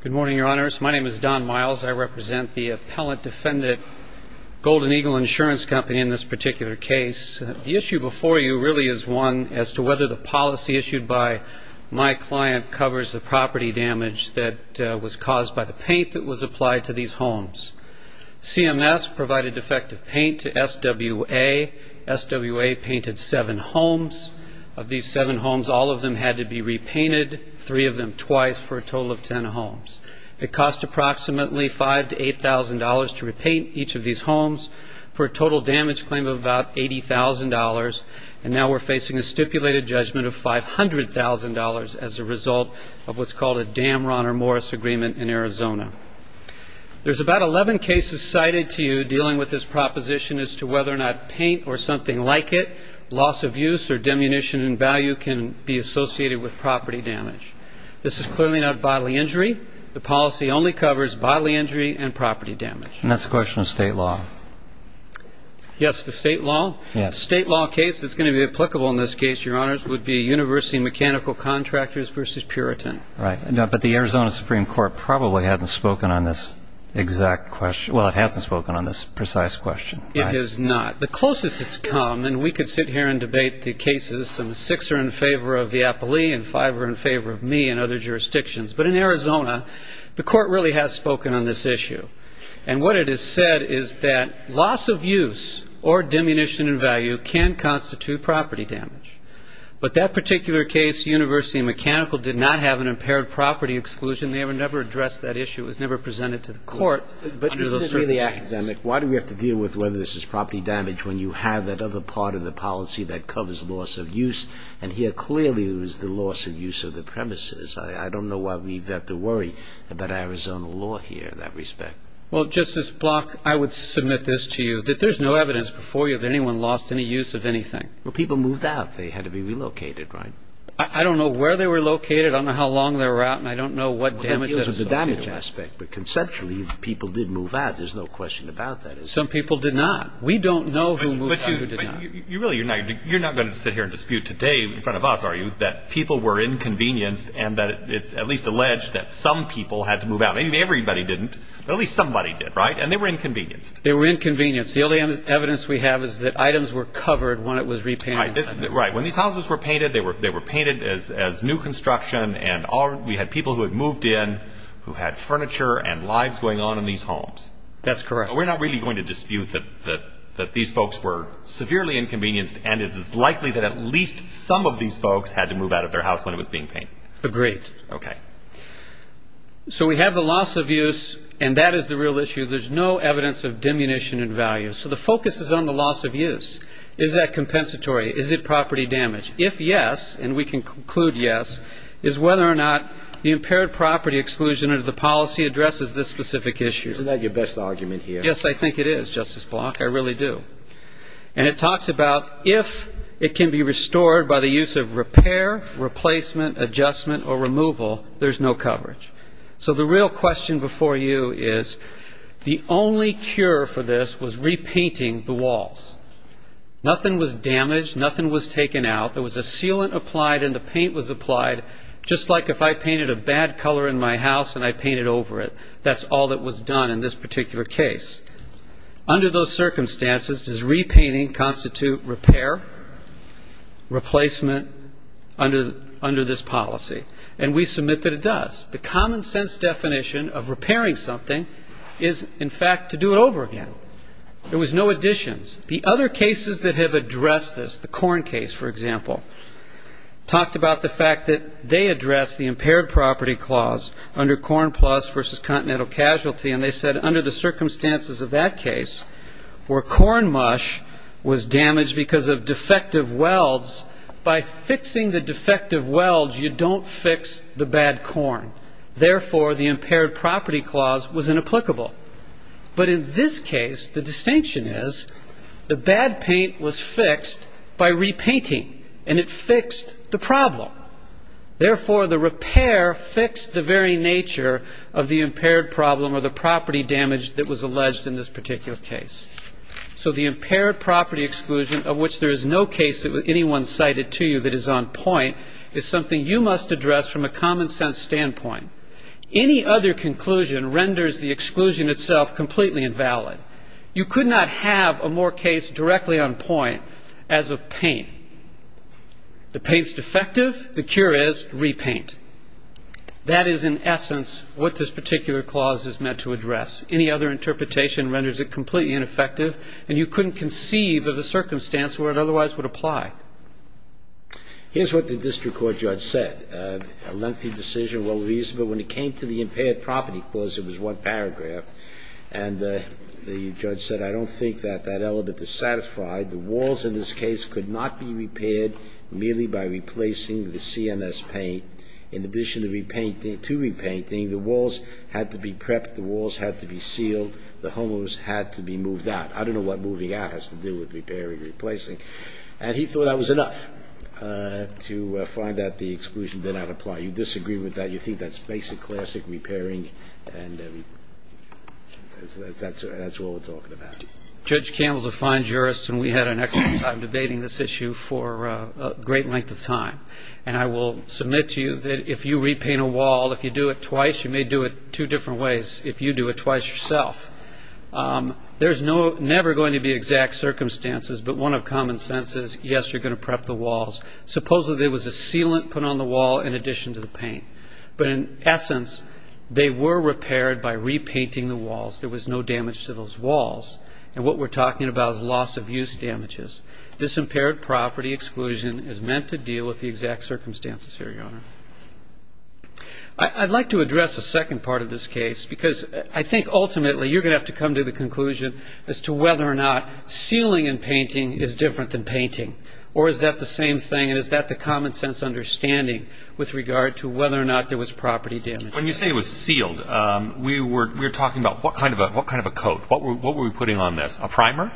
Good morning, Your Honors. My name is Don Miles. I represent the appellant-defendant Golden Eagle Insurance Company in this particular case. The issue before you really is one as to whether the policy issued by my client covers the property damage that was caused by the paint that was applied to these homes. CMS provided defective paint to SWA. SWA painted seven homes. Of these seven homes, all of them had to be repainted, three of them twice, for a total of 10 homes. It cost approximately $5,000 to $8,000 to repaint each of these homes for a total damage claim of about $80,000. And now we're facing a stipulated judgment of $500,000 as a result of what's called a Dam-Ron or Morris Agreement in Arizona. There's about 11 cases cited to you dealing with this proposition as to whether or not paint or something like it, loss of use or demunition in value, can be associated with property damage. This is clearly not bodily injury. The policy only covers bodily injury and property damage. And that's a question of state law. Yes, the state law. The state law case that's going to be applicable in this case, Your Honors, would be University Mechanical Contractors v. Puritan. Right, but the Arizona Supreme Court probably hasn't spoken on this exact question. It has not. The closest it's come, and we could sit here and debate the cases, and six are in favor of the appellee and five are in favor of me and other jurisdictions. But in Arizona, the court really has spoken on this issue. And what it has said is that loss of use or demunition in value can constitute property damage. But that particular case, University Mechanical, did not have an impaired property exclusion. They never addressed that issue. It was never presented to the court under those circumstances. Why do we have to deal with whether this is property damage when you have that other part of the policy that covers loss of use? And here, clearly, it was the loss of use of the premises. I don't know why we have to worry about Arizona law here in that respect. Well, Justice Block, I would submit this to you, that there's no evidence before you that anyone lost any use of anything. Well, people moved out. They had to be relocated, right? I don't know where they were located. I don't know how long they were out, and I don't know what damage that associated with it. Well, that deals with the damage aspect. But, conceptually, people did move out. There's no question about that. Some people did not. We don't know who moved out and who did not. But really, you're not going to sit here and dispute today in front of us, are you, that people were inconvenienced and that it's at least alleged that some people had to move out. Maybe everybody didn't, but at least somebody did, right? And they were inconvenienced. They were inconvenienced. The only evidence we have is that items were covered when it was repainted. Right. When these houses were painted, they were painted as new construction, and we had people who had moved in who had furniture and lives going on in these homes. That's correct. We're not really going to dispute that these folks were severely inconvenienced and it is likely that at least some of these folks had to move out of their house when it was being painted. Agreed. Okay. So we have the loss of use, and that is the real issue. There's no evidence of diminution in value. So the focus is on the loss of use. Is that compensatory? Is it property damage? If yes, and we can conclude yes, is whether or not the impaired property exclusion under the policy addresses this specific issue. Isn't that your best argument here? Yes, I think it is, Justice Block. I really do. And it talks about if it can be restored by the use of repair, replacement, adjustment, or removal, there's no coverage. So the real question before you is the only cure for this was repainting the walls. Nothing was damaged. Nothing was taken out. There was a sealant applied and the paint was applied, just like if I painted a bad color in my house and I painted over it. That's all that was done in this particular case. Under those circumstances, does repainting constitute repair, replacement, under this policy? And we submit that it does. The common sense definition of repairing something is, in fact, to do it over again. There was no additions. The other cases that have addressed this, the corn case, for example, talked about the fact that they addressed the impaired property clause under Corn Plus versus Continental Casualty, and they said under the circumstances of that case, where corn mush was damaged because of defective welds, by fixing the defective welds, you don't fix the bad corn. Therefore, the impaired property clause was inapplicable. But in this case, the distinction is the bad paint was fixed by repainting, and it fixed the problem. Therefore, the repair fixed the very nature of the impaired problem or the property damage that was alleged in this particular case. So the impaired property exclusion, of which there is no case that anyone cited to you that is on point, is something you must address from a common sense standpoint. Any other conclusion renders the exclusion itself completely invalid. You could not have a more case directly on point as a paint. The paint's defective. The cure is repaint. That is, in essence, what this particular clause is meant to address. Any other interpretation renders it completely ineffective, and you couldn't conceive of a circumstance where it otherwise would apply. Here's what the district court judge said. A lengthy decision, well reasonable. When it came to the impaired property clause, it was one paragraph. And the judge said, I don't think that that element is satisfied. The walls in this case could not be repaired merely by replacing the CMS paint. In addition to repainting, the walls had to be prepped. The walls had to be sealed. The homeowners had to be moved out. I don't know what moving out has to do with repairing or replacing. And he thought that was enough to find that the exclusion did not apply. You disagree with that. You think that's basic, classic repairing, and that's all we're talking about. Judge Campbell's a fine jurist, and we had an excellent time debating this issue for a great length of time. And I will submit to you that if you repaint a wall, if you do it twice, you may do it two different ways if you do it twice yourself. There's never going to be exact circumstances, but one of common sense is, yes, you're going to prep the walls. Supposedly there was a sealant put on the wall in addition to the paint. But in essence, they were repaired by repainting the walls. There was no damage to those walls. And what we're talking about is loss of use damages. This impaired property exclusion is meant to deal with the exact circumstances here, Your Honor. I'd like to address a second part of this case, because I think ultimately you're going to have to come to the conclusion as to whether or not sealing and painting is different than painting. Or is that the same thing, and is that the common sense understanding with regard to whether or not there was property damage? When you say it was sealed, we were talking about what kind of a coat. What were we putting on this, a primer?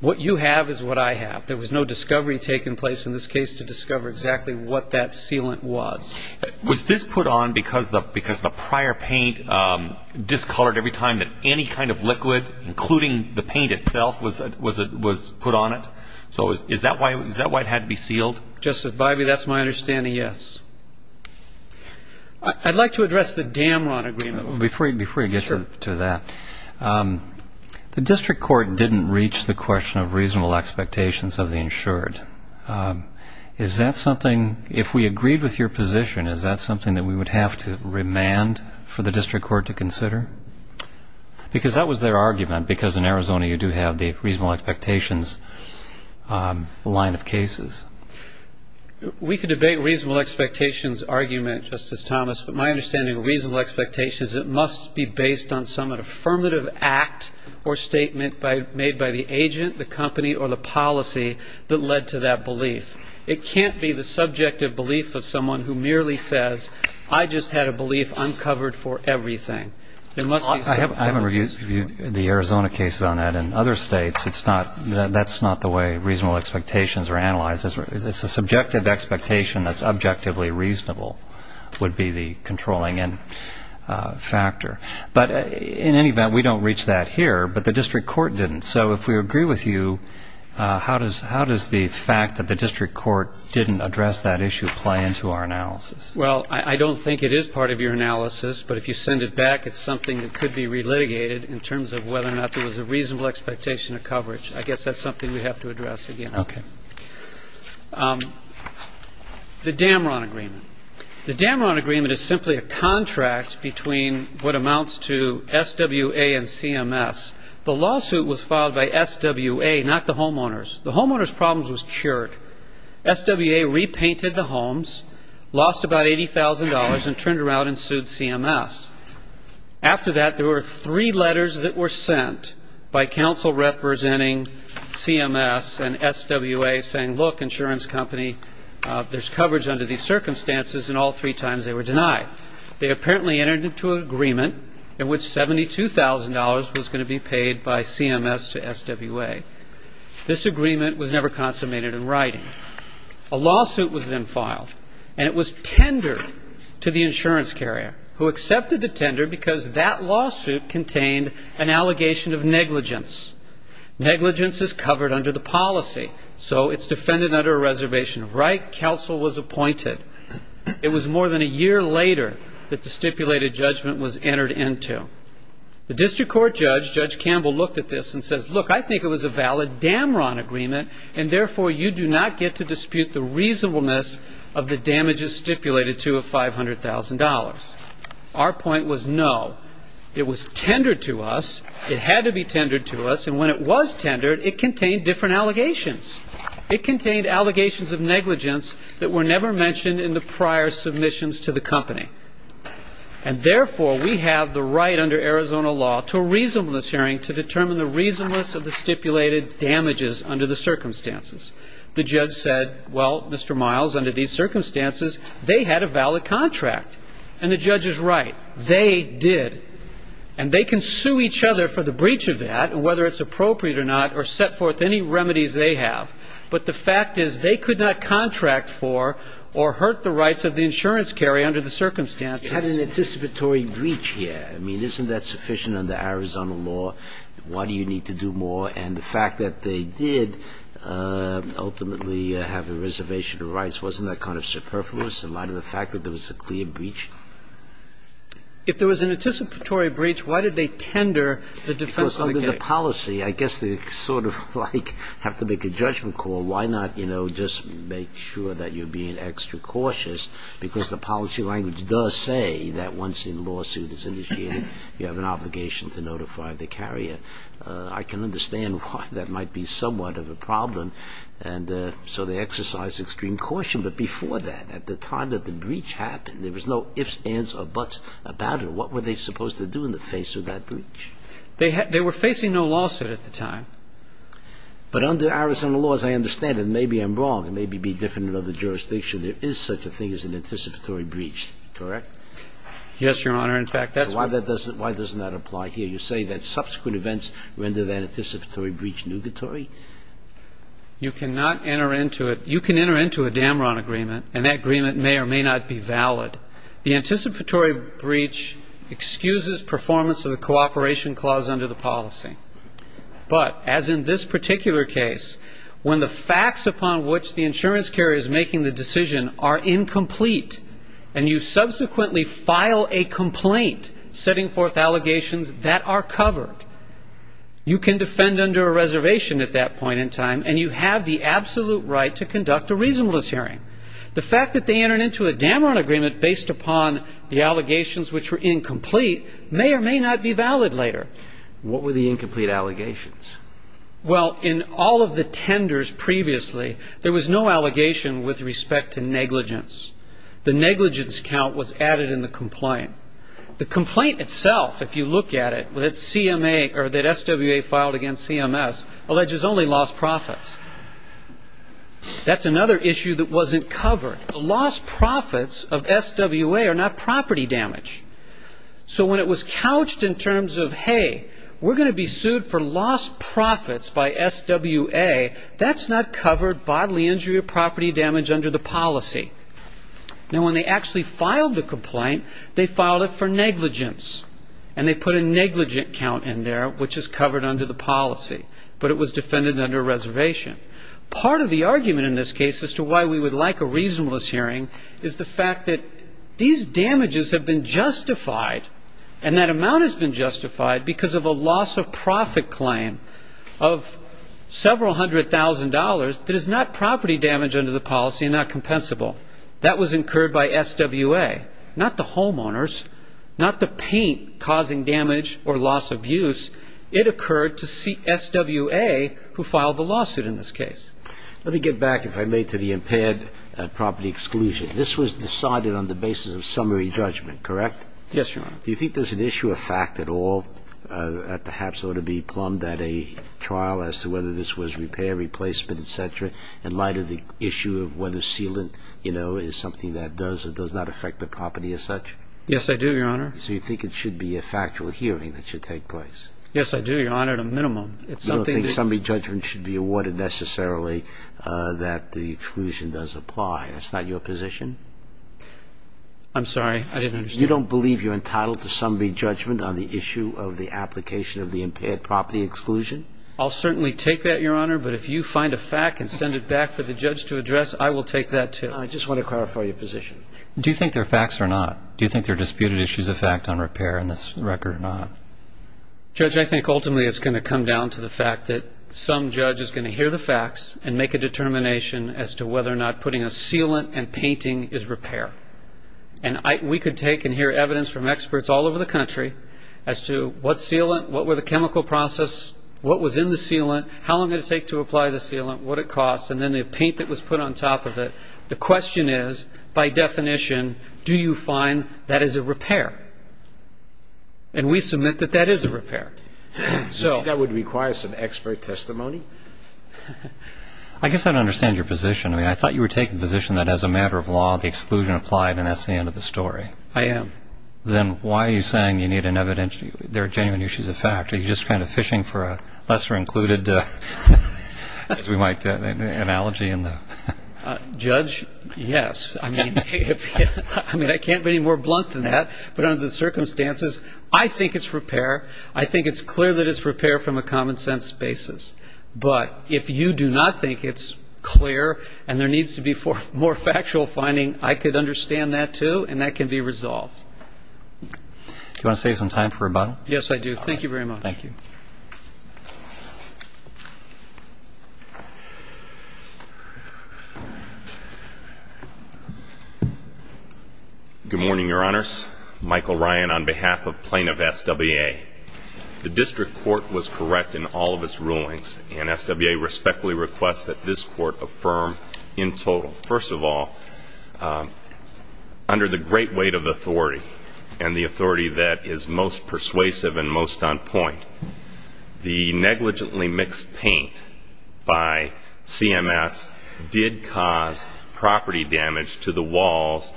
What you have is what I have. There was no discovery taking place in this case to discover exactly what that sealant was. Was this put on because the prior paint discolored every time that any kind of liquid, including the paint itself, was put on it? So is that why it had to be sealed? Justice Bivey, that's my understanding, yes. I'd like to address the Damron agreement. Before you get to that, the district court didn't reach the question of reasonable expectations of the insured. Is that something, if we agreed with your position, is that something that we would have to remand for the district court to consider? Because that was their argument, because in Arizona you do have the reasonable expectations line of cases. We could debate reasonable expectations argument, Justice Thomas, but my understanding of reasonable expectation is it must be based on some affirmative act or statement made by the agent, the company, or the policy that led to that belief. It can't be the subjective belief of someone who merely says, I just had a belief uncovered for everything. I haven't reviewed the Arizona cases on that. In other states, that's not the way reasonable expectations are analyzed. It's a subjective expectation that's objectively reasonable, would be the controlling end factor. But in any event, we don't reach that here, but the district court didn't. So if we agree with you, how does the fact that the district court didn't address that issue play into our analysis? Well, I don't think it is part of your analysis, but if you send it back, it's something that could be relitigated in terms of whether or not there was a reasonable expectation of coverage. I guess that's something we have to address again. Okay. The Damron agreement. The Damron agreement is simply a contract between what amounts to SWA and CMS. The lawsuit was filed by SWA, not the homeowners. The homeowners' problems was cured. SWA repainted the homes, lost about $80,000, and turned around and sued CMS. After that, there were three letters that were sent by counsel representing CMS and SWA saying, look, insurance company, there's coverage under these circumstances, and all three times they were denied. They apparently entered into an agreement in which $72,000 was going to be paid by CMS to SWA. This agreement was never consummated in writing. A lawsuit was then filed, and it was tendered to the insurance carrier, who accepted the tender because that lawsuit contained an allegation of negligence. Negligence is covered under the policy, so it's defended under a reservation of right. Counsel was appointed. It was more than a year later that the stipulated judgment was entered into. The district court judge, Judge Campbell, looked at this and says, look, I think it was a valid Damron agreement, and, therefore, you do not get to dispute the reasonableness of the damages stipulated to a $500,000. Our point was no. It was tendered to us. It had to be tendered to us, and when it was tendered, it contained different allegations. It contained allegations of negligence that were never mentioned in the prior submissions to the company. And, therefore, we have the right under Arizona law to a reasonableness hearing to determine the reasonableness of the stipulated damages under the circumstances. The judge said, well, Mr. Miles, under these circumstances, they had a valid contract. And the judge is right. They did. And they can sue each other for the breach of that, whether it's appropriate or not, or set forth any remedies they have, but the fact is they could not contract for or hurt the rights of the insurance carry under the circumstances. Had an anticipatory breach here. I mean, isn't that sufficient under Arizona law? Why do you need to do more? And the fact that they did ultimately have a reservation of rights, wasn't that kind of superfluous in light of the fact that there was a clear breach? If there was an anticipatory breach, why did they tender the defense of the case? Because under the policy, I guess they sort of like have to make a judgment call. Why not just make sure that you're being extra cautious? Because the policy language does say that once a lawsuit is initiated, you have an obligation to notify the carrier. I can understand why that might be somewhat of a problem. And so they exercise extreme caution. But before that, at the time that the breach happened, there was no ifs, ands, or buts about it. What were they supposed to do in the face of that breach? They were facing no lawsuit at the time. But under Arizona law, as I understand it, and maybe I'm wrong, and maybe it would be different in other jurisdictions, there is such a thing as an anticipatory breach, correct? Yes, Your Honor. In fact, that's why that doesn't apply here. You say that subsequent events render that anticipatory breach nugatory? You cannot enter into it. You can enter into a Damron agreement, and that agreement may or may not be valid. The anticipatory breach excuses performance of the cooperation clause under the policy. But as in this particular case, when the facts upon which the insurance carrier is making the decision are incomplete, and you subsequently file a complaint setting forth allegations that are covered, you can defend under a reservation at that point in time, and you have the absolute right to conduct a reasonableness hearing. The fact that they entered into a Damron agreement based upon the allegations which were incomplete may or may not be valid later. What were the incomplete allegations? Well, in all of the tenders previously, there was no allegation with respect to negligence. The negligence count was added in the complaint. The complaint itself, if you look at it, that SWA filed against CMS alleges only lost profits. That's another issue that wasn't covered. The lost profits of SWA are not property damage. So when it was couched in terms of, hey, we're going to be sued for lost profits by SWA, that's not covered bodily injury or property damage under the policy. Now, when they actually filed the complaint, they filed it for negligence, and they put a negligent count in there, which is covered under the policy, but it was defended under a reservation. Part of the argument in this case as to why we would like a reasonableness hearing is the fact that these damages have been justified, and that amount has been justified because of a loss-of-profit claim of several hundred thousand dollars that is not property damage under the policy and not compensable. That was incurred by SWA, not the homeowners, not the paint causing damage or loss of use. It occurred to SWA, who filed the lawsuit in this case. Let me get back, if I may, to the impaired property exclusion. This was decided on the basis of summary judgment, correct? Yes, Your Honor. Do you think there's an issue of fact at all that perhaps ought to be plumbed at a trial as to whether this was repair, replacement, et cetera, in light of the issue of whether sealant is something that does or does not affect the property as such? Yes, I do, Your Honor. So you think it should be a factual hearing that should take place? Yes, I do, Your Honor, at a minimum. You don't think summary judgment should be awarded necessarily that the exclusion does apply. That's not your position? I'm sorry, I didn't understand. You don't believe you're entitled to summary judgment on the issue of the application of the impaired property exclusion? I'll certainly take that, Your Honor, but if you find a fact and send it back for the judge to address, I will take that too. I just want to clarify your position. Do you think there are facts or not? Do you think there are disputed issues of fact on repair in this record or not? Judge, I think ultimately it's going to come down to the fact that some judge is going to hear the facts and make a determination as to whether or not putting a sealant and painting is repair. And we could take and hear evidence from experts all over the country as to what sealant, what were the chemical process, what was in the sealant, how long did it take to apply the sealant, what it cost, and then the paint that was put on top of it. The question is, by definition, do you find that is a repair? And we submit that that is a repair. Do you think that would require some expert testimony? I guess I don't understand your position. I mean, I thought you were taking the position that as a matter of law, the exclusion applied and that's the end of the story. I am. Then why are you saying you need an evidence, there are genuine issues of fact? Are you just kind of fishing for a lesser included, as we might say, analogy? Judge, yes. I mean, I can't be any more blunt than that. But under the circumstances, I think it's repair. I think it's clear that it's repair from a common sense basis. But if you do not think it's clear and there needs to be more factual finding, I could understand that, too, and that can be resolved. Do you want to save some time for rebuttal? Yes, I do. Thank you very much. Thank you. Good morning, Your Honors. Michael Ryan on behalf of plaintiff SWA. The district court was correct in all of its rulings, and SWA respectfully requests that this court affirm in total. First of all, under the great weight of authority and the authority that is most persuasive and most on point, the negligently mixed paint by CMS did cause property damage to the walls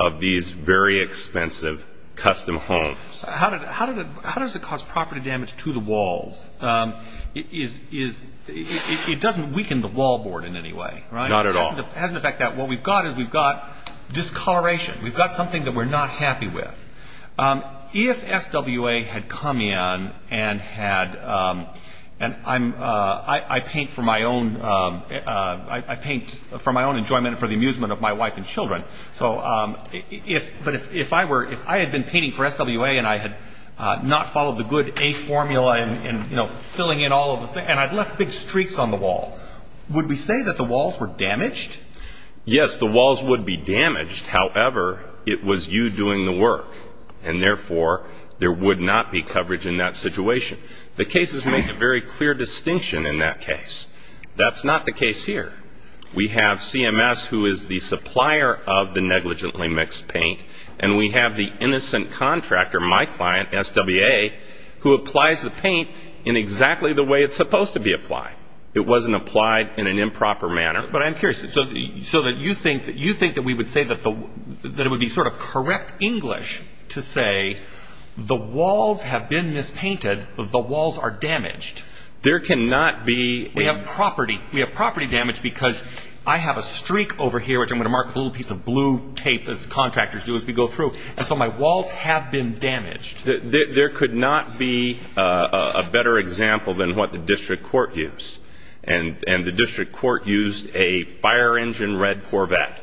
of these very expensive custom homes. How does it cause property damage to the walls? It doesn't weaken the wall board in any way, right? Not at all. It has the effect that what we've got is we've got discoloration. We've got something that we're not happy with. If SWA had come in and I paint for my own enjoyment and for the amusement of my wife and children, but if I had been painting for SWA and I had not followed the good A formula and filling in all of the things, and I'd left big streaks on the wall, would we say that the walls were damaged? Yes, the walls would be damaged. However, it was you doing the work, and therefore there would not be coverage in that situation. The cases make a very clear distinction in that case. That's not the case here. We have CMS, who is the supplier of the negligently mixed paint, and we have the innocent contractor, my client, SWA, who applies the paint in exactly the way it's supposed to be applied. It wasn't applied in an improper manner. But I'm curious. So you think that we would say that it would be sort of correct English to say the walls have been mispainted, but the walls are damaged. There cannot be. We have property damage because I have a streak over here, which I'm going to mark with a little piece of blue tape, as contractors do as we go through, and so my walls have been damaged. There could not be a better example than what the district court used, and the district court used a fire engine red Corvette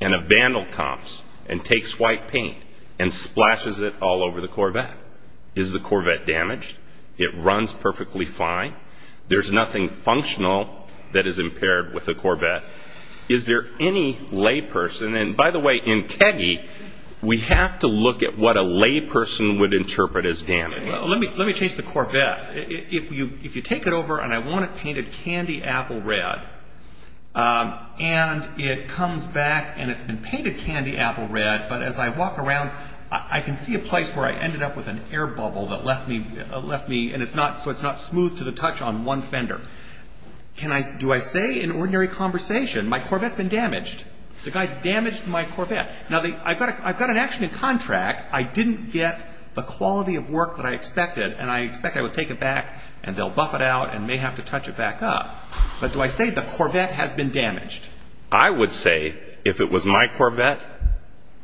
and a vandal comps and takes white paint and splashes it all over the Corvette. Is the Corvette damaged? It runs perfectly fine. There's nothing functional that is impaired with the Corvette. Is there any layperson? And, by the way, in KEGGIE, we have to look at what a layperson would interpret as damage. Let me change the Corvette. If you take it over, and I want it painted candy apple red, and it comes back and it's been painted candy apple red, but as I walk around, I can see a place where I ended up with an air bubble that left me, and it's not smooth to the touch on one fender. Do I say in ordinary conversation, my Corvette's been damaged? The guy's damaged my Corvette. Now, I've got an action in contract. I didn't get the quality of work that I expected, and I expect I would take it back, and they'll buff it out, and may have to touch it back up. But do I say the Corvette has been damaged? I would say, if it was my Corvette,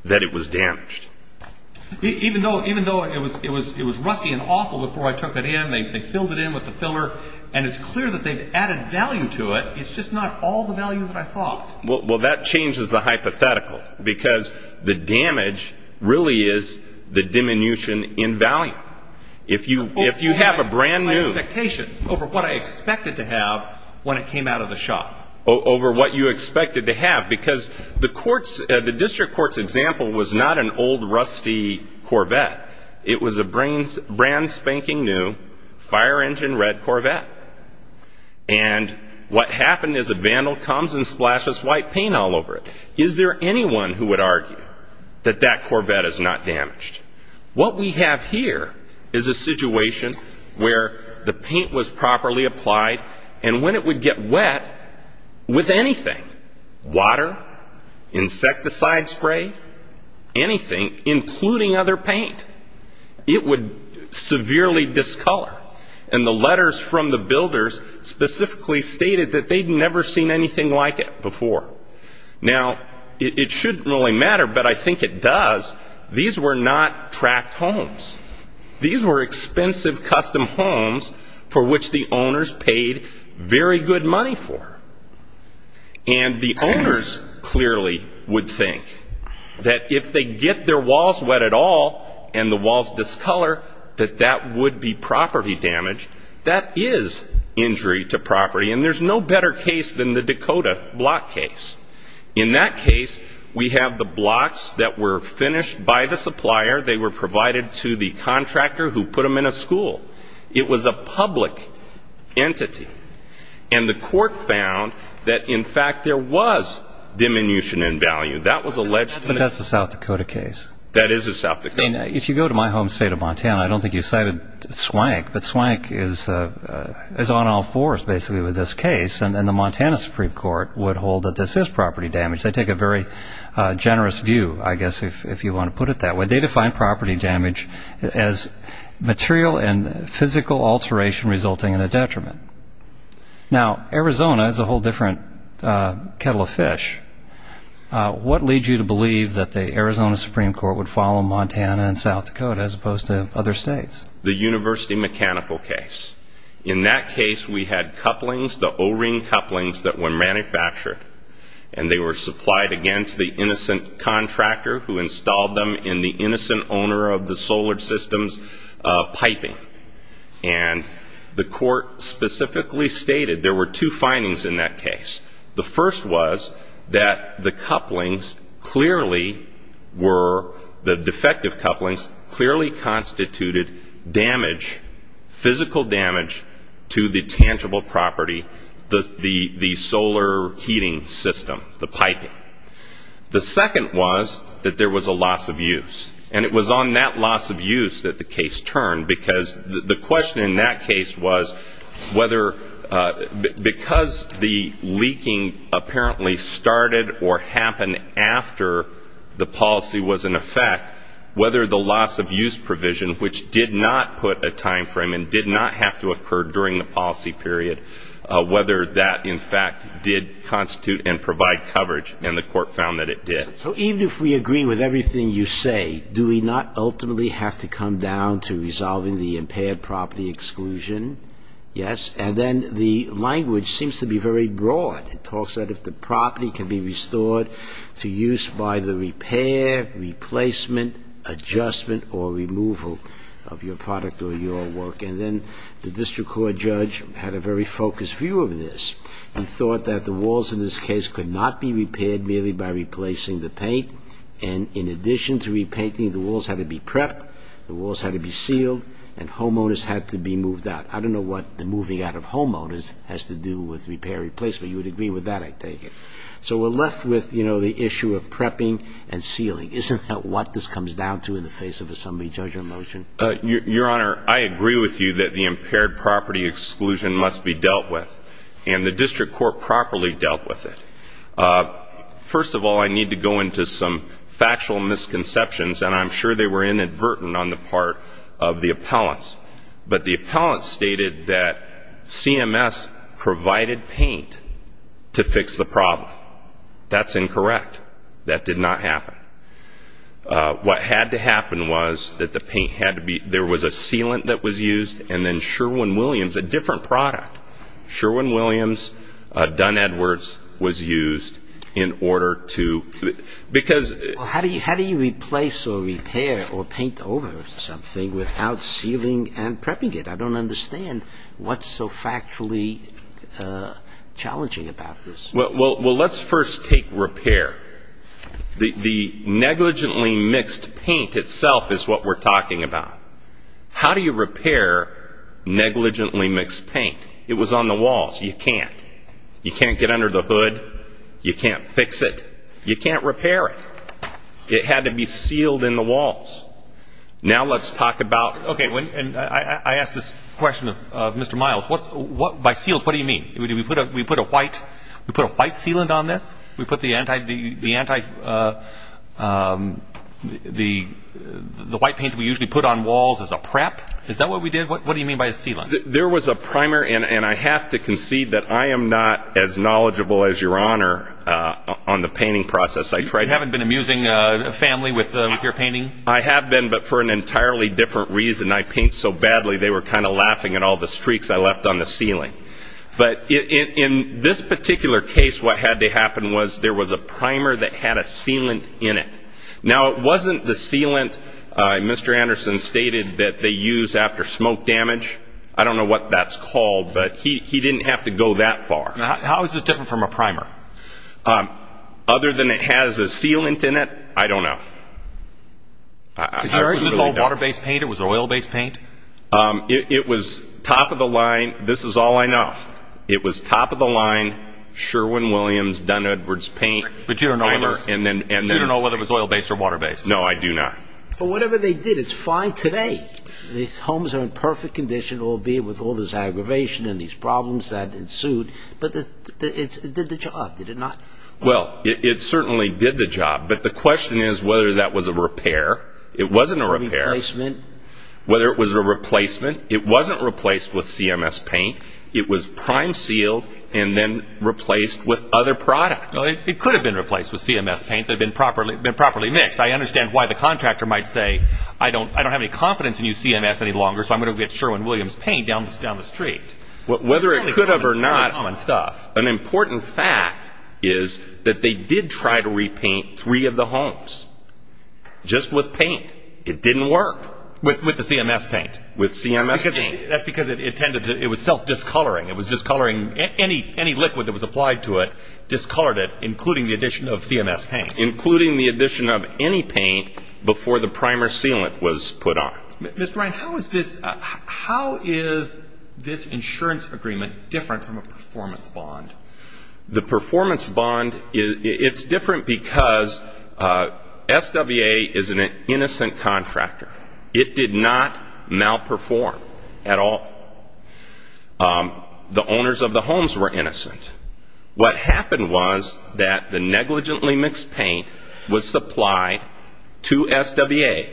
that it was damaged. Even though it was rusty and awful before I took it in, they filled it in with the filler, and it's clear that they've added value to it, it's just not all the value that I thought. Well, that changes the hypothetical, because the damage really is the diminution in value. If you have a brand new... My expectations over what I expected to have when it came out of the shop. Over what you expected to have, because the district court's example was not an old, rusty Corvette. It was a brand spanking new, fire engine red Corvette. And what happened is a vandal comes and splashes white paint all over it. Is there anyone who would argue that that Corvette is not damaged? What we have here is a situation where the paint was properly applied, and when it would get wet, with anything, water, insecticide spray, anything, including other paint, it would severely discolor. And the letters from the builders specifically stated that they'd never seen anything like it before. Now, it shouldn't really matter, but I think it does. These were not tract homes. These were expensive custom homes for which the owners paid very good money for. And the owners clearly would think that if they get their walls wet at all and the walls discolor, that that would be property damage. That is injury to property, and there's no better case than the Dakota block case. In that case, we have the blocks that were finished by the supplier. They were provided to the contractor who put them in a school. It was a public entity. And the court found that, in fact, there was diminution in value. But that's a South Dakota case. That is a South Dakota case. If you go to my home state of Montana, I don't think you cited Swank, but Swank is on all fours, basically, with this case. And the Montana Supreme Court would hold that this is property damage. They take a very generous view, I guess, if you want to put it that way. They define property damage as material and physical alteration resulting in a detriment. Now, Arizona is a whole different kettle of fish. What leads you to believe that the Arizona Supreme Court would follow Montana and South Dakota as opposed to other states? The university mechanical case. In that case, we had couplings, the O-ring couplings that were manufactured. And they were supplied, again, to the innocent contractor who installed them in the innocent owner of the solar system's piping. And the court specifically stated there were two findings in that case. The first was that the couplings clearly were, the defective couplings, clearly constituted damage, physical damage, to the tangible property, the solar heating system, the piping. The second was that there was a loss of use. And it was on that loss of use that the case turned, because the question in that case was whether, because the leaking apparently started or happened after the policy was in effect, whether the loss of use provision, which did not put a time frame and did not have to occur during the policy period, whether that, in fact, did constitute and provide coverage. And the court found that it did. So even if we agree with everything you say, do we not ultimately have to come down to resolving the impaired property exclusion? Yes. And then the language seems to be very broad. It talks about if the property can be restored to use by the repair, replacement, adjustment, or removal of your product or your work. And then the district court judge had a very focused view of this and thought that the walls in this case could not be repaired merely by replacing the paint. And in addition to repainting, the walls had to be prepped, the walls had to be sealed, and homeowners had to be moved out. I don't know what the moving out of homeowners has to do with repair replacement. So you would agree with that, I take it. So we're left with, you know, the issue of prepping and sealing. Isn't that what this comes down to in the face of a summary judgment motion? Your Honor, I agree with you that the impaired property exclusion must be dealt with, and the district court properly dealt with it. First of all, I need to go into some factual misconceptions, and I'm sure they were inadvertent on the part of the appellants. But the appellants stated that CMS provided paint to fix the problem. That's incorrect. That did not happen. What had to happen was that the paint had to be, there was a sealant that was used, and then Sherwin-Williams, a different product, Sherwin-Williams Dunn-Edwards was used in order to, because... I don't understand what's so factually challenging about this. Well, let's first take repair. The negligently mixed paint itself is what we're talking about. How do you repair negligently mixed paint? It was on the walls. You can't. You can't get under the hood. You can't fix it. You can't repair it. It had to be sealed in the walls. Now let's talk about... Okay, and I ask this question of Mr. Miles. By sealed, what do you mean? We put a white sealant on this? We put the white paint we usually put on walls as a prep? Is that what we did? What do you mean by a sealant? There was a primer, and I have to concede that I am not as knowledgeable as Your Honor on the painting process. You haven't been amusing a family with your painting? I have been, but for an entirely different reason. I paint so badly, they were kind of laughing at all the streaks I left on the ceiling. But in this particular case, what had to happen was there was a primer that had a sealant in it. Now, it wasn't the sealant Mr. Anderson stated that they use after smoke damage. I don't know what that's called, but he didn't have to go that far. How is this different from a primer? Other than it has a sealant in it, I don't know. Was this all water-based paint or was it oil-based paint? It was top of the line, this is all I know. It was top of the line Sherwin-Williams, Dunn-Edwards paint. But you don't know whether it was oil-based or water-based? No, I do not. But whatever they did, it's fine today. These homes are in perfect condition, albeit with all this aggravation and these problems that ensued. But it did the job, did it not? Well, it certainly did the job, but the question is whether that was a repair. It wasn't a repair. A replacement? Whether it was a replacement. It wasn't replaced with CMS paint. It was prime-sealed and then replaced with other product. It could have been replaced with CMS paint that had been properly mixed. I understand why the contractor might say, I don't have any confidence in your CMS any longer, so I'm going to get Sherwin-Williams paint down the street. Whether it could have or not, an important fact is that they did try to repaint three of the homes just with paint. It didn't work. With the CMS paint? With CMS paint. That's because it was self-discoloring. It was discoloring any liquid that was applied to it, discolored it, including the addition of CMS paint. Including the addition of any paint before the primer sealant was put on. Mr. Ryan, how is this insurance agreement different from a performance bond? The performance bond, it's different because SWA is an innocent contractor. It did not malperform at all. What happened was that the negligently mixed paint was supplied to SWA.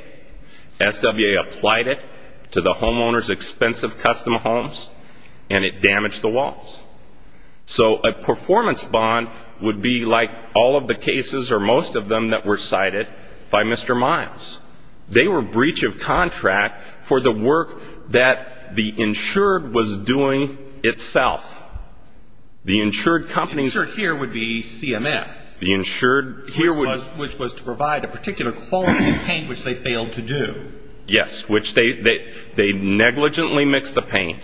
SWA applied it to the homeowner's expensive custom homes, and it damaged the walls. So a performance bond would be like all of the cases or most of them that were cited by Mr. Miles. They were breach of contract for the work that the insured was doing itself. The insured company's ---- The insured here would be CMS. The insured here would ---- Which was to provide a particular quality of paint which they failed to do. Yes, which they negligently mixed the paint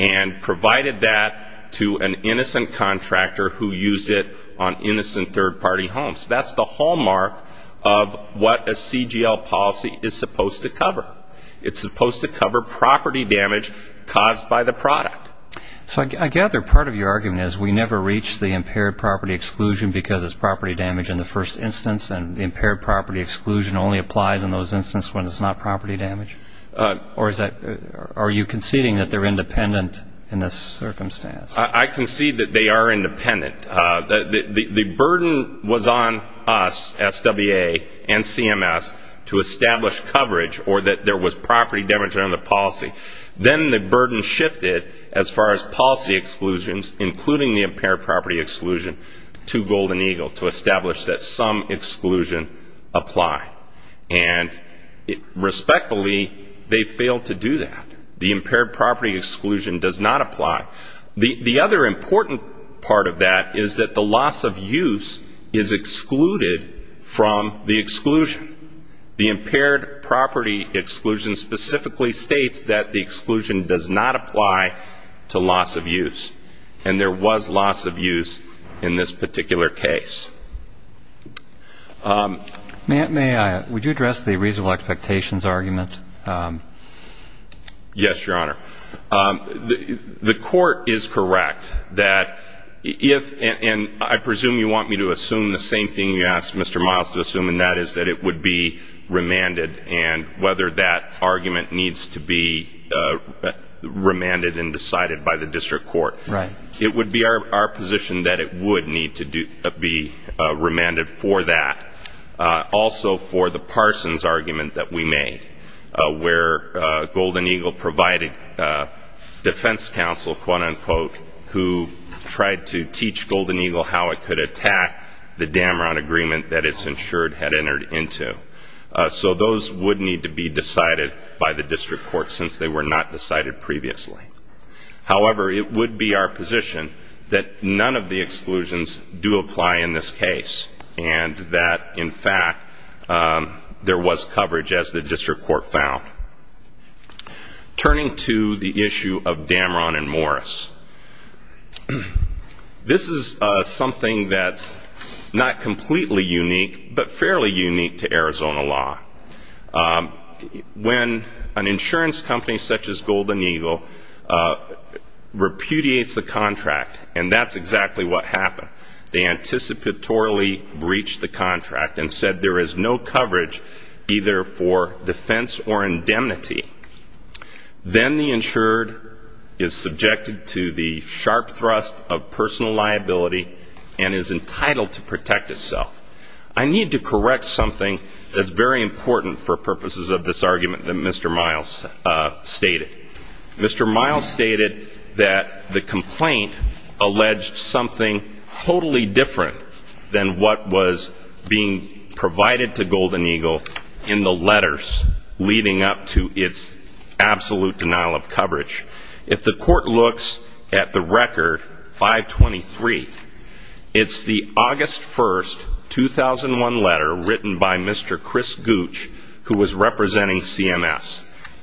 and provided that to an innocent contractor who used it on innocent third-party homes. That's the hallmark of what a CGL policy is supposed to cover. It's supposed to cover property damage caused by the product. So I gather part of your argument is we never reach the impaired property exclusion because it's property damage in the first instance, and the impaired property exclusion only applies in those instances when it's not property damage? Or are you conceding that they're independent in this circumstance? I concede that they are independent. The burden was on us, SWA and CMS, to establish coverage or that there was property damage under the policy. Then the burden shifted as far as policy exclusions, including the impaired property exclusion, to Golden Eagle to establish that some exclusion applied. And respectfully, they failed to do that. The impaired property exclusion does not apply. The other important part of that is that the loss of use is excluded from the exclusion. The impaired property exclusion specifically states that the exclusion does not apply to loss of use, and there was loss of use in this particular case. May I? Would you address the reasonable expectations argument? Yes, Your Honor. The court is correct that if, and I presume you want me to assume the same thing you asked Mr. Miles to assume, and that is that it would be remanded and whether that argument needs to be remanded and decided by the district court. Right. It would be our position that it would need to be remanded for that. Also for the Parsons argument that we made, where Golden Eagle provided defense counsel, quote-unquote, who tried to teach Golden Eagle how it could attack the Damron agreement that it's ensured had entered into. So those would need to be decided by the district court, since they were not decided previously. However, it would be our position that none of the exclusions do apply in this case, and that, in fact, there was coverage as the district court found. Turning to the issue of Damron and Morris. This is something that's not completely unique, but fairly unique to Arizona law. When an insurance company such as Golden Eagle repudiates the contract, and that's exactly what happened. They anticipatorily breached the contract and said there is no coverage either for defense or indemnity. Then the insured is subjected to the sharp thrust of personal liability and is entitled to protect itself. I need to correct something that's very important for purposes of this argument that Mr. Miles stated. Mr. Miles stated that the complaint alleged something totally different than what was being provided to Golden Eagle in the letters leading up to its absolute denial of coverage. If the court looks at the record 523, it's the August 1st, 2001 letter written by Mr. Chris Gooch, who was representing CMS,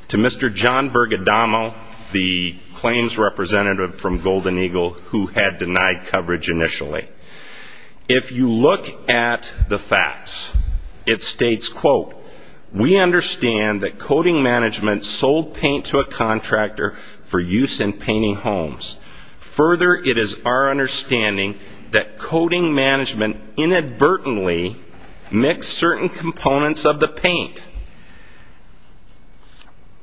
to Mr. John Bergadamo, the claims representative from Golden Eagle, who had denied coverage initially. If you look at the facts, it states, quote, we understand that coding management sold paint to a contractor for use in painting homes. Further, it is our understanding that coding management inadvertently mixed certain components of the paint.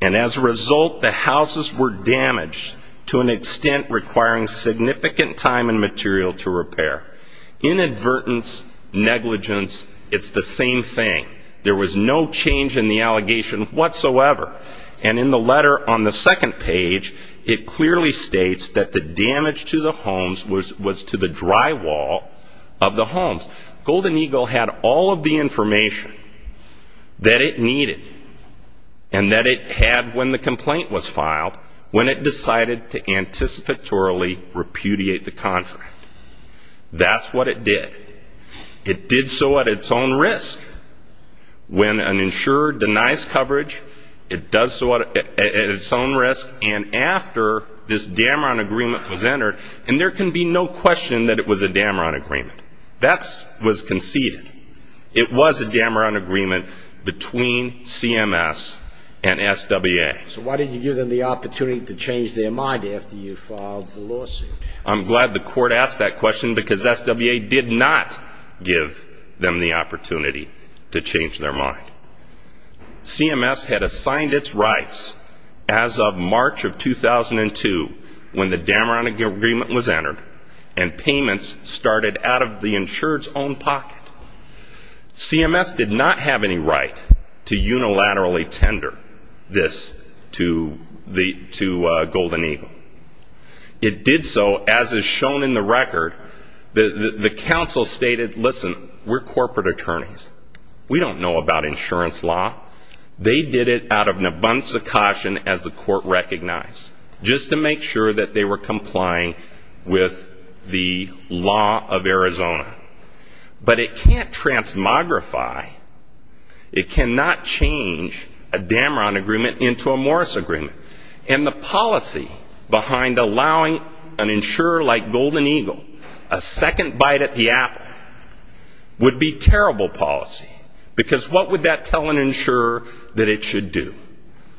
And as a result, the houses were damaged to an extent requiring significant time and material to repair. Inadvertence, negligence, it's the same thing. There was no change in the allegation whatsoever. And in the letter on the second page, it clearly states that the damage to the homes was to the drywall of the homes. Golden Eagle had all of the information that it needed and that it had when the complaint was filed when it decided to anticipatorily repudiate the contract. That's what it did. It did so at its own risk. When an insurer denies coverage, it does so at its own risk. And after this Damron agreement was entered, and there can be no question that it was a Damron agreement. That was conceded. It was a Damron agreement between CMS and SWA. So why didn't you give them the opportunity to change their mind after you filed the lawsuit? I'm glad the court asked that question because SWA did not give them the opportunity to change their mind. CMS had assigned its rights as of March of 2002 when the Damron agreement was entered and payments started out of the insured's own pocket. CMS did not have any right to unilaterally tender this to Golden Eagle. It did so as is shown in the record. The counsel stated, listen, we're corporate attorneys. We don't know about insurance law. They did it out of an abundance of caution as the court recognized, just to make sure that they were complying with the law of Arizona. But it can't transmogrify. It cannot change a Damron agreement into a Morris agreement. And the policy behind allowing an insurer like Golden Eagle a second bite at the apple would be terrible policy because what would that tell an insurer that it should do?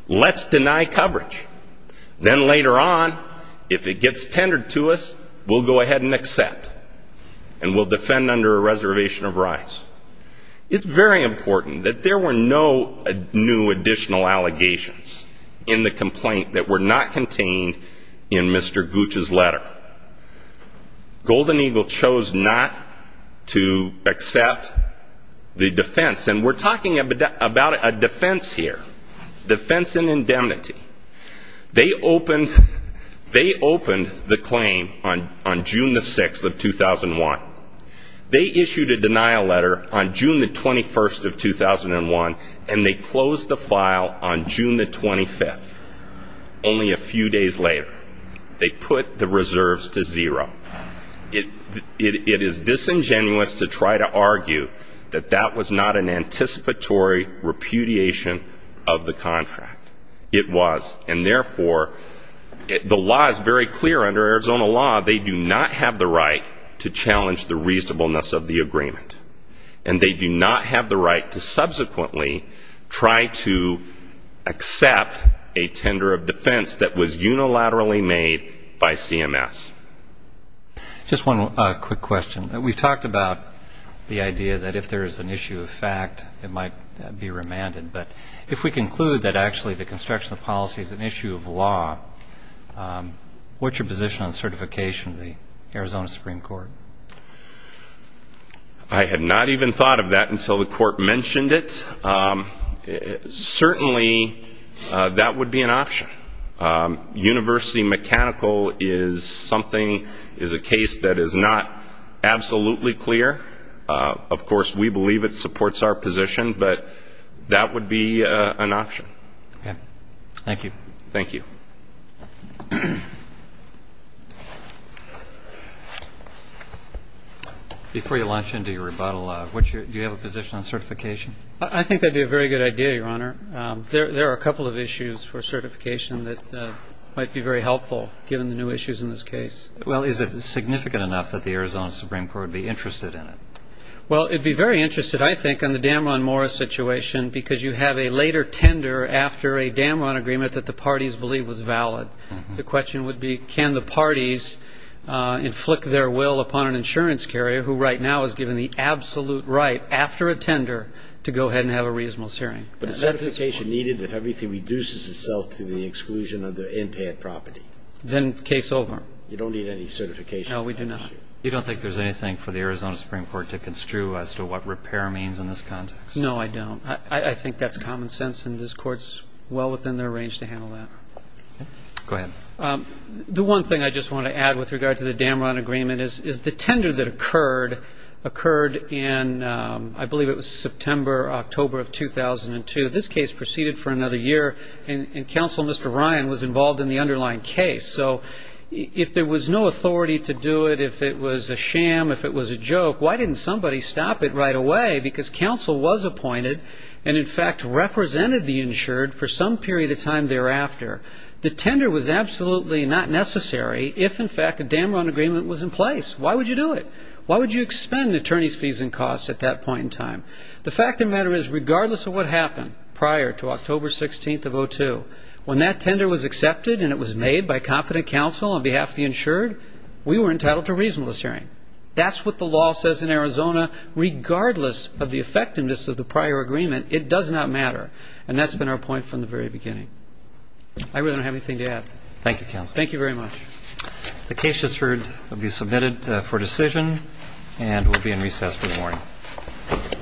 Let's deny coverage. Then later on, if it gets tendered to us, we'll go ahead and accept, and we'll defend under a reservation of rights. It's very important that there were no new additional allegations in the complaint that were not contained in Mr. Gooch's letter. Golden Eagle chose not to accept the defense. And we're talking about a defense here, defense in indemnity. They opened the claim on June the 6th of 2001. They issued a denial letter on June the 21st of 2001, and they closed the file on June the 25th, only a few days later. They put the reserves to zero. It is disingenuous to try to argue that that was not an anticipatory repudiation of the contract. It was, and therefore the law is very clear. Under Arizona law, they do not have the right to challenge the reasonableness of the agreement, and they do not have the right to subsequently try to accept a tender of defense that was unilaterally made by CMS. Just one quick question. We've talked about the idea that if there is an issue of fact, it might be remanded. But if we conclude that actually the construction of policy is an issue of law, what's your position on certification of the Arizona Supreme Court? I had not even thought of that until the Court mentioned it. Certainly that would be an option. University mechanical is something, is a case that is not absolutely clear. Of course, we believe it supports our position, but that would be an option. Okay. Thank you. Thank you. Before you launch into your rebuttal, do you have a position on certification? I think that would be a very good idea, Your Honor. There are a couple of issues for certification that might be very helpful given the new issues in this case. Well, is it significant enough that the Arizona Supreme Court would be interested in it? Well, it would be very interested, I think, on the Damron-Morris situation because you have a later tender after a Damron agreement that the parties believe was valid. The question would be can the parties inflict their will upon an insurance carrier who right now is given the absolute right after a tender to go ahead and have a reasonable hearing. But certification needed if everything reduces itself to the exclusion of the in-payment property. Then case over. You don't need any certification. No, we do not. You don't think there's anything for the Arizona Supreme Court to construe as to what repair means in this context? No, I don't. I think that's common sense, and this Court is well within their range to handle that. Okay. Go ahead. The one thing I just want to add with regard to the Damron agreement is the tender that occurred, occurred in I believe it was September or October of 2002. This case proceeded for another year, and Counsel Mr. Ryan was involved in the underlying case. So if there was no authority to do it, if it was a sham, if it was a joke, why didn't somebody stop it right away? Because Counsel was appointed and, in fact, represented the insured for some period of time thereafter. The tender was absolutely not necessary if, in fact, a Damron agreement was in place. Why would you do it? Why would you expend attorney's fees and costs at that point in time? The fact of the matter is regardless of what happened prior to October 16th of 2002, when that tender was accepted and it was made by competent counsel on behalf of the insured, we were entitled to a reasonableness hearing. That's what the law says in Arizona. Regardless of the effectiveness of the prior agreement, it does not matter, and that's been our point from the very beginning. I really don't have anything to add. Thank you, Counsel. Thank you very much. The case just heard will be submitted for decision, and we'll be in recess for the morning. Thank you. All rise. This court's session stands adjourned. This court is adjourned. Thank you. Thank you.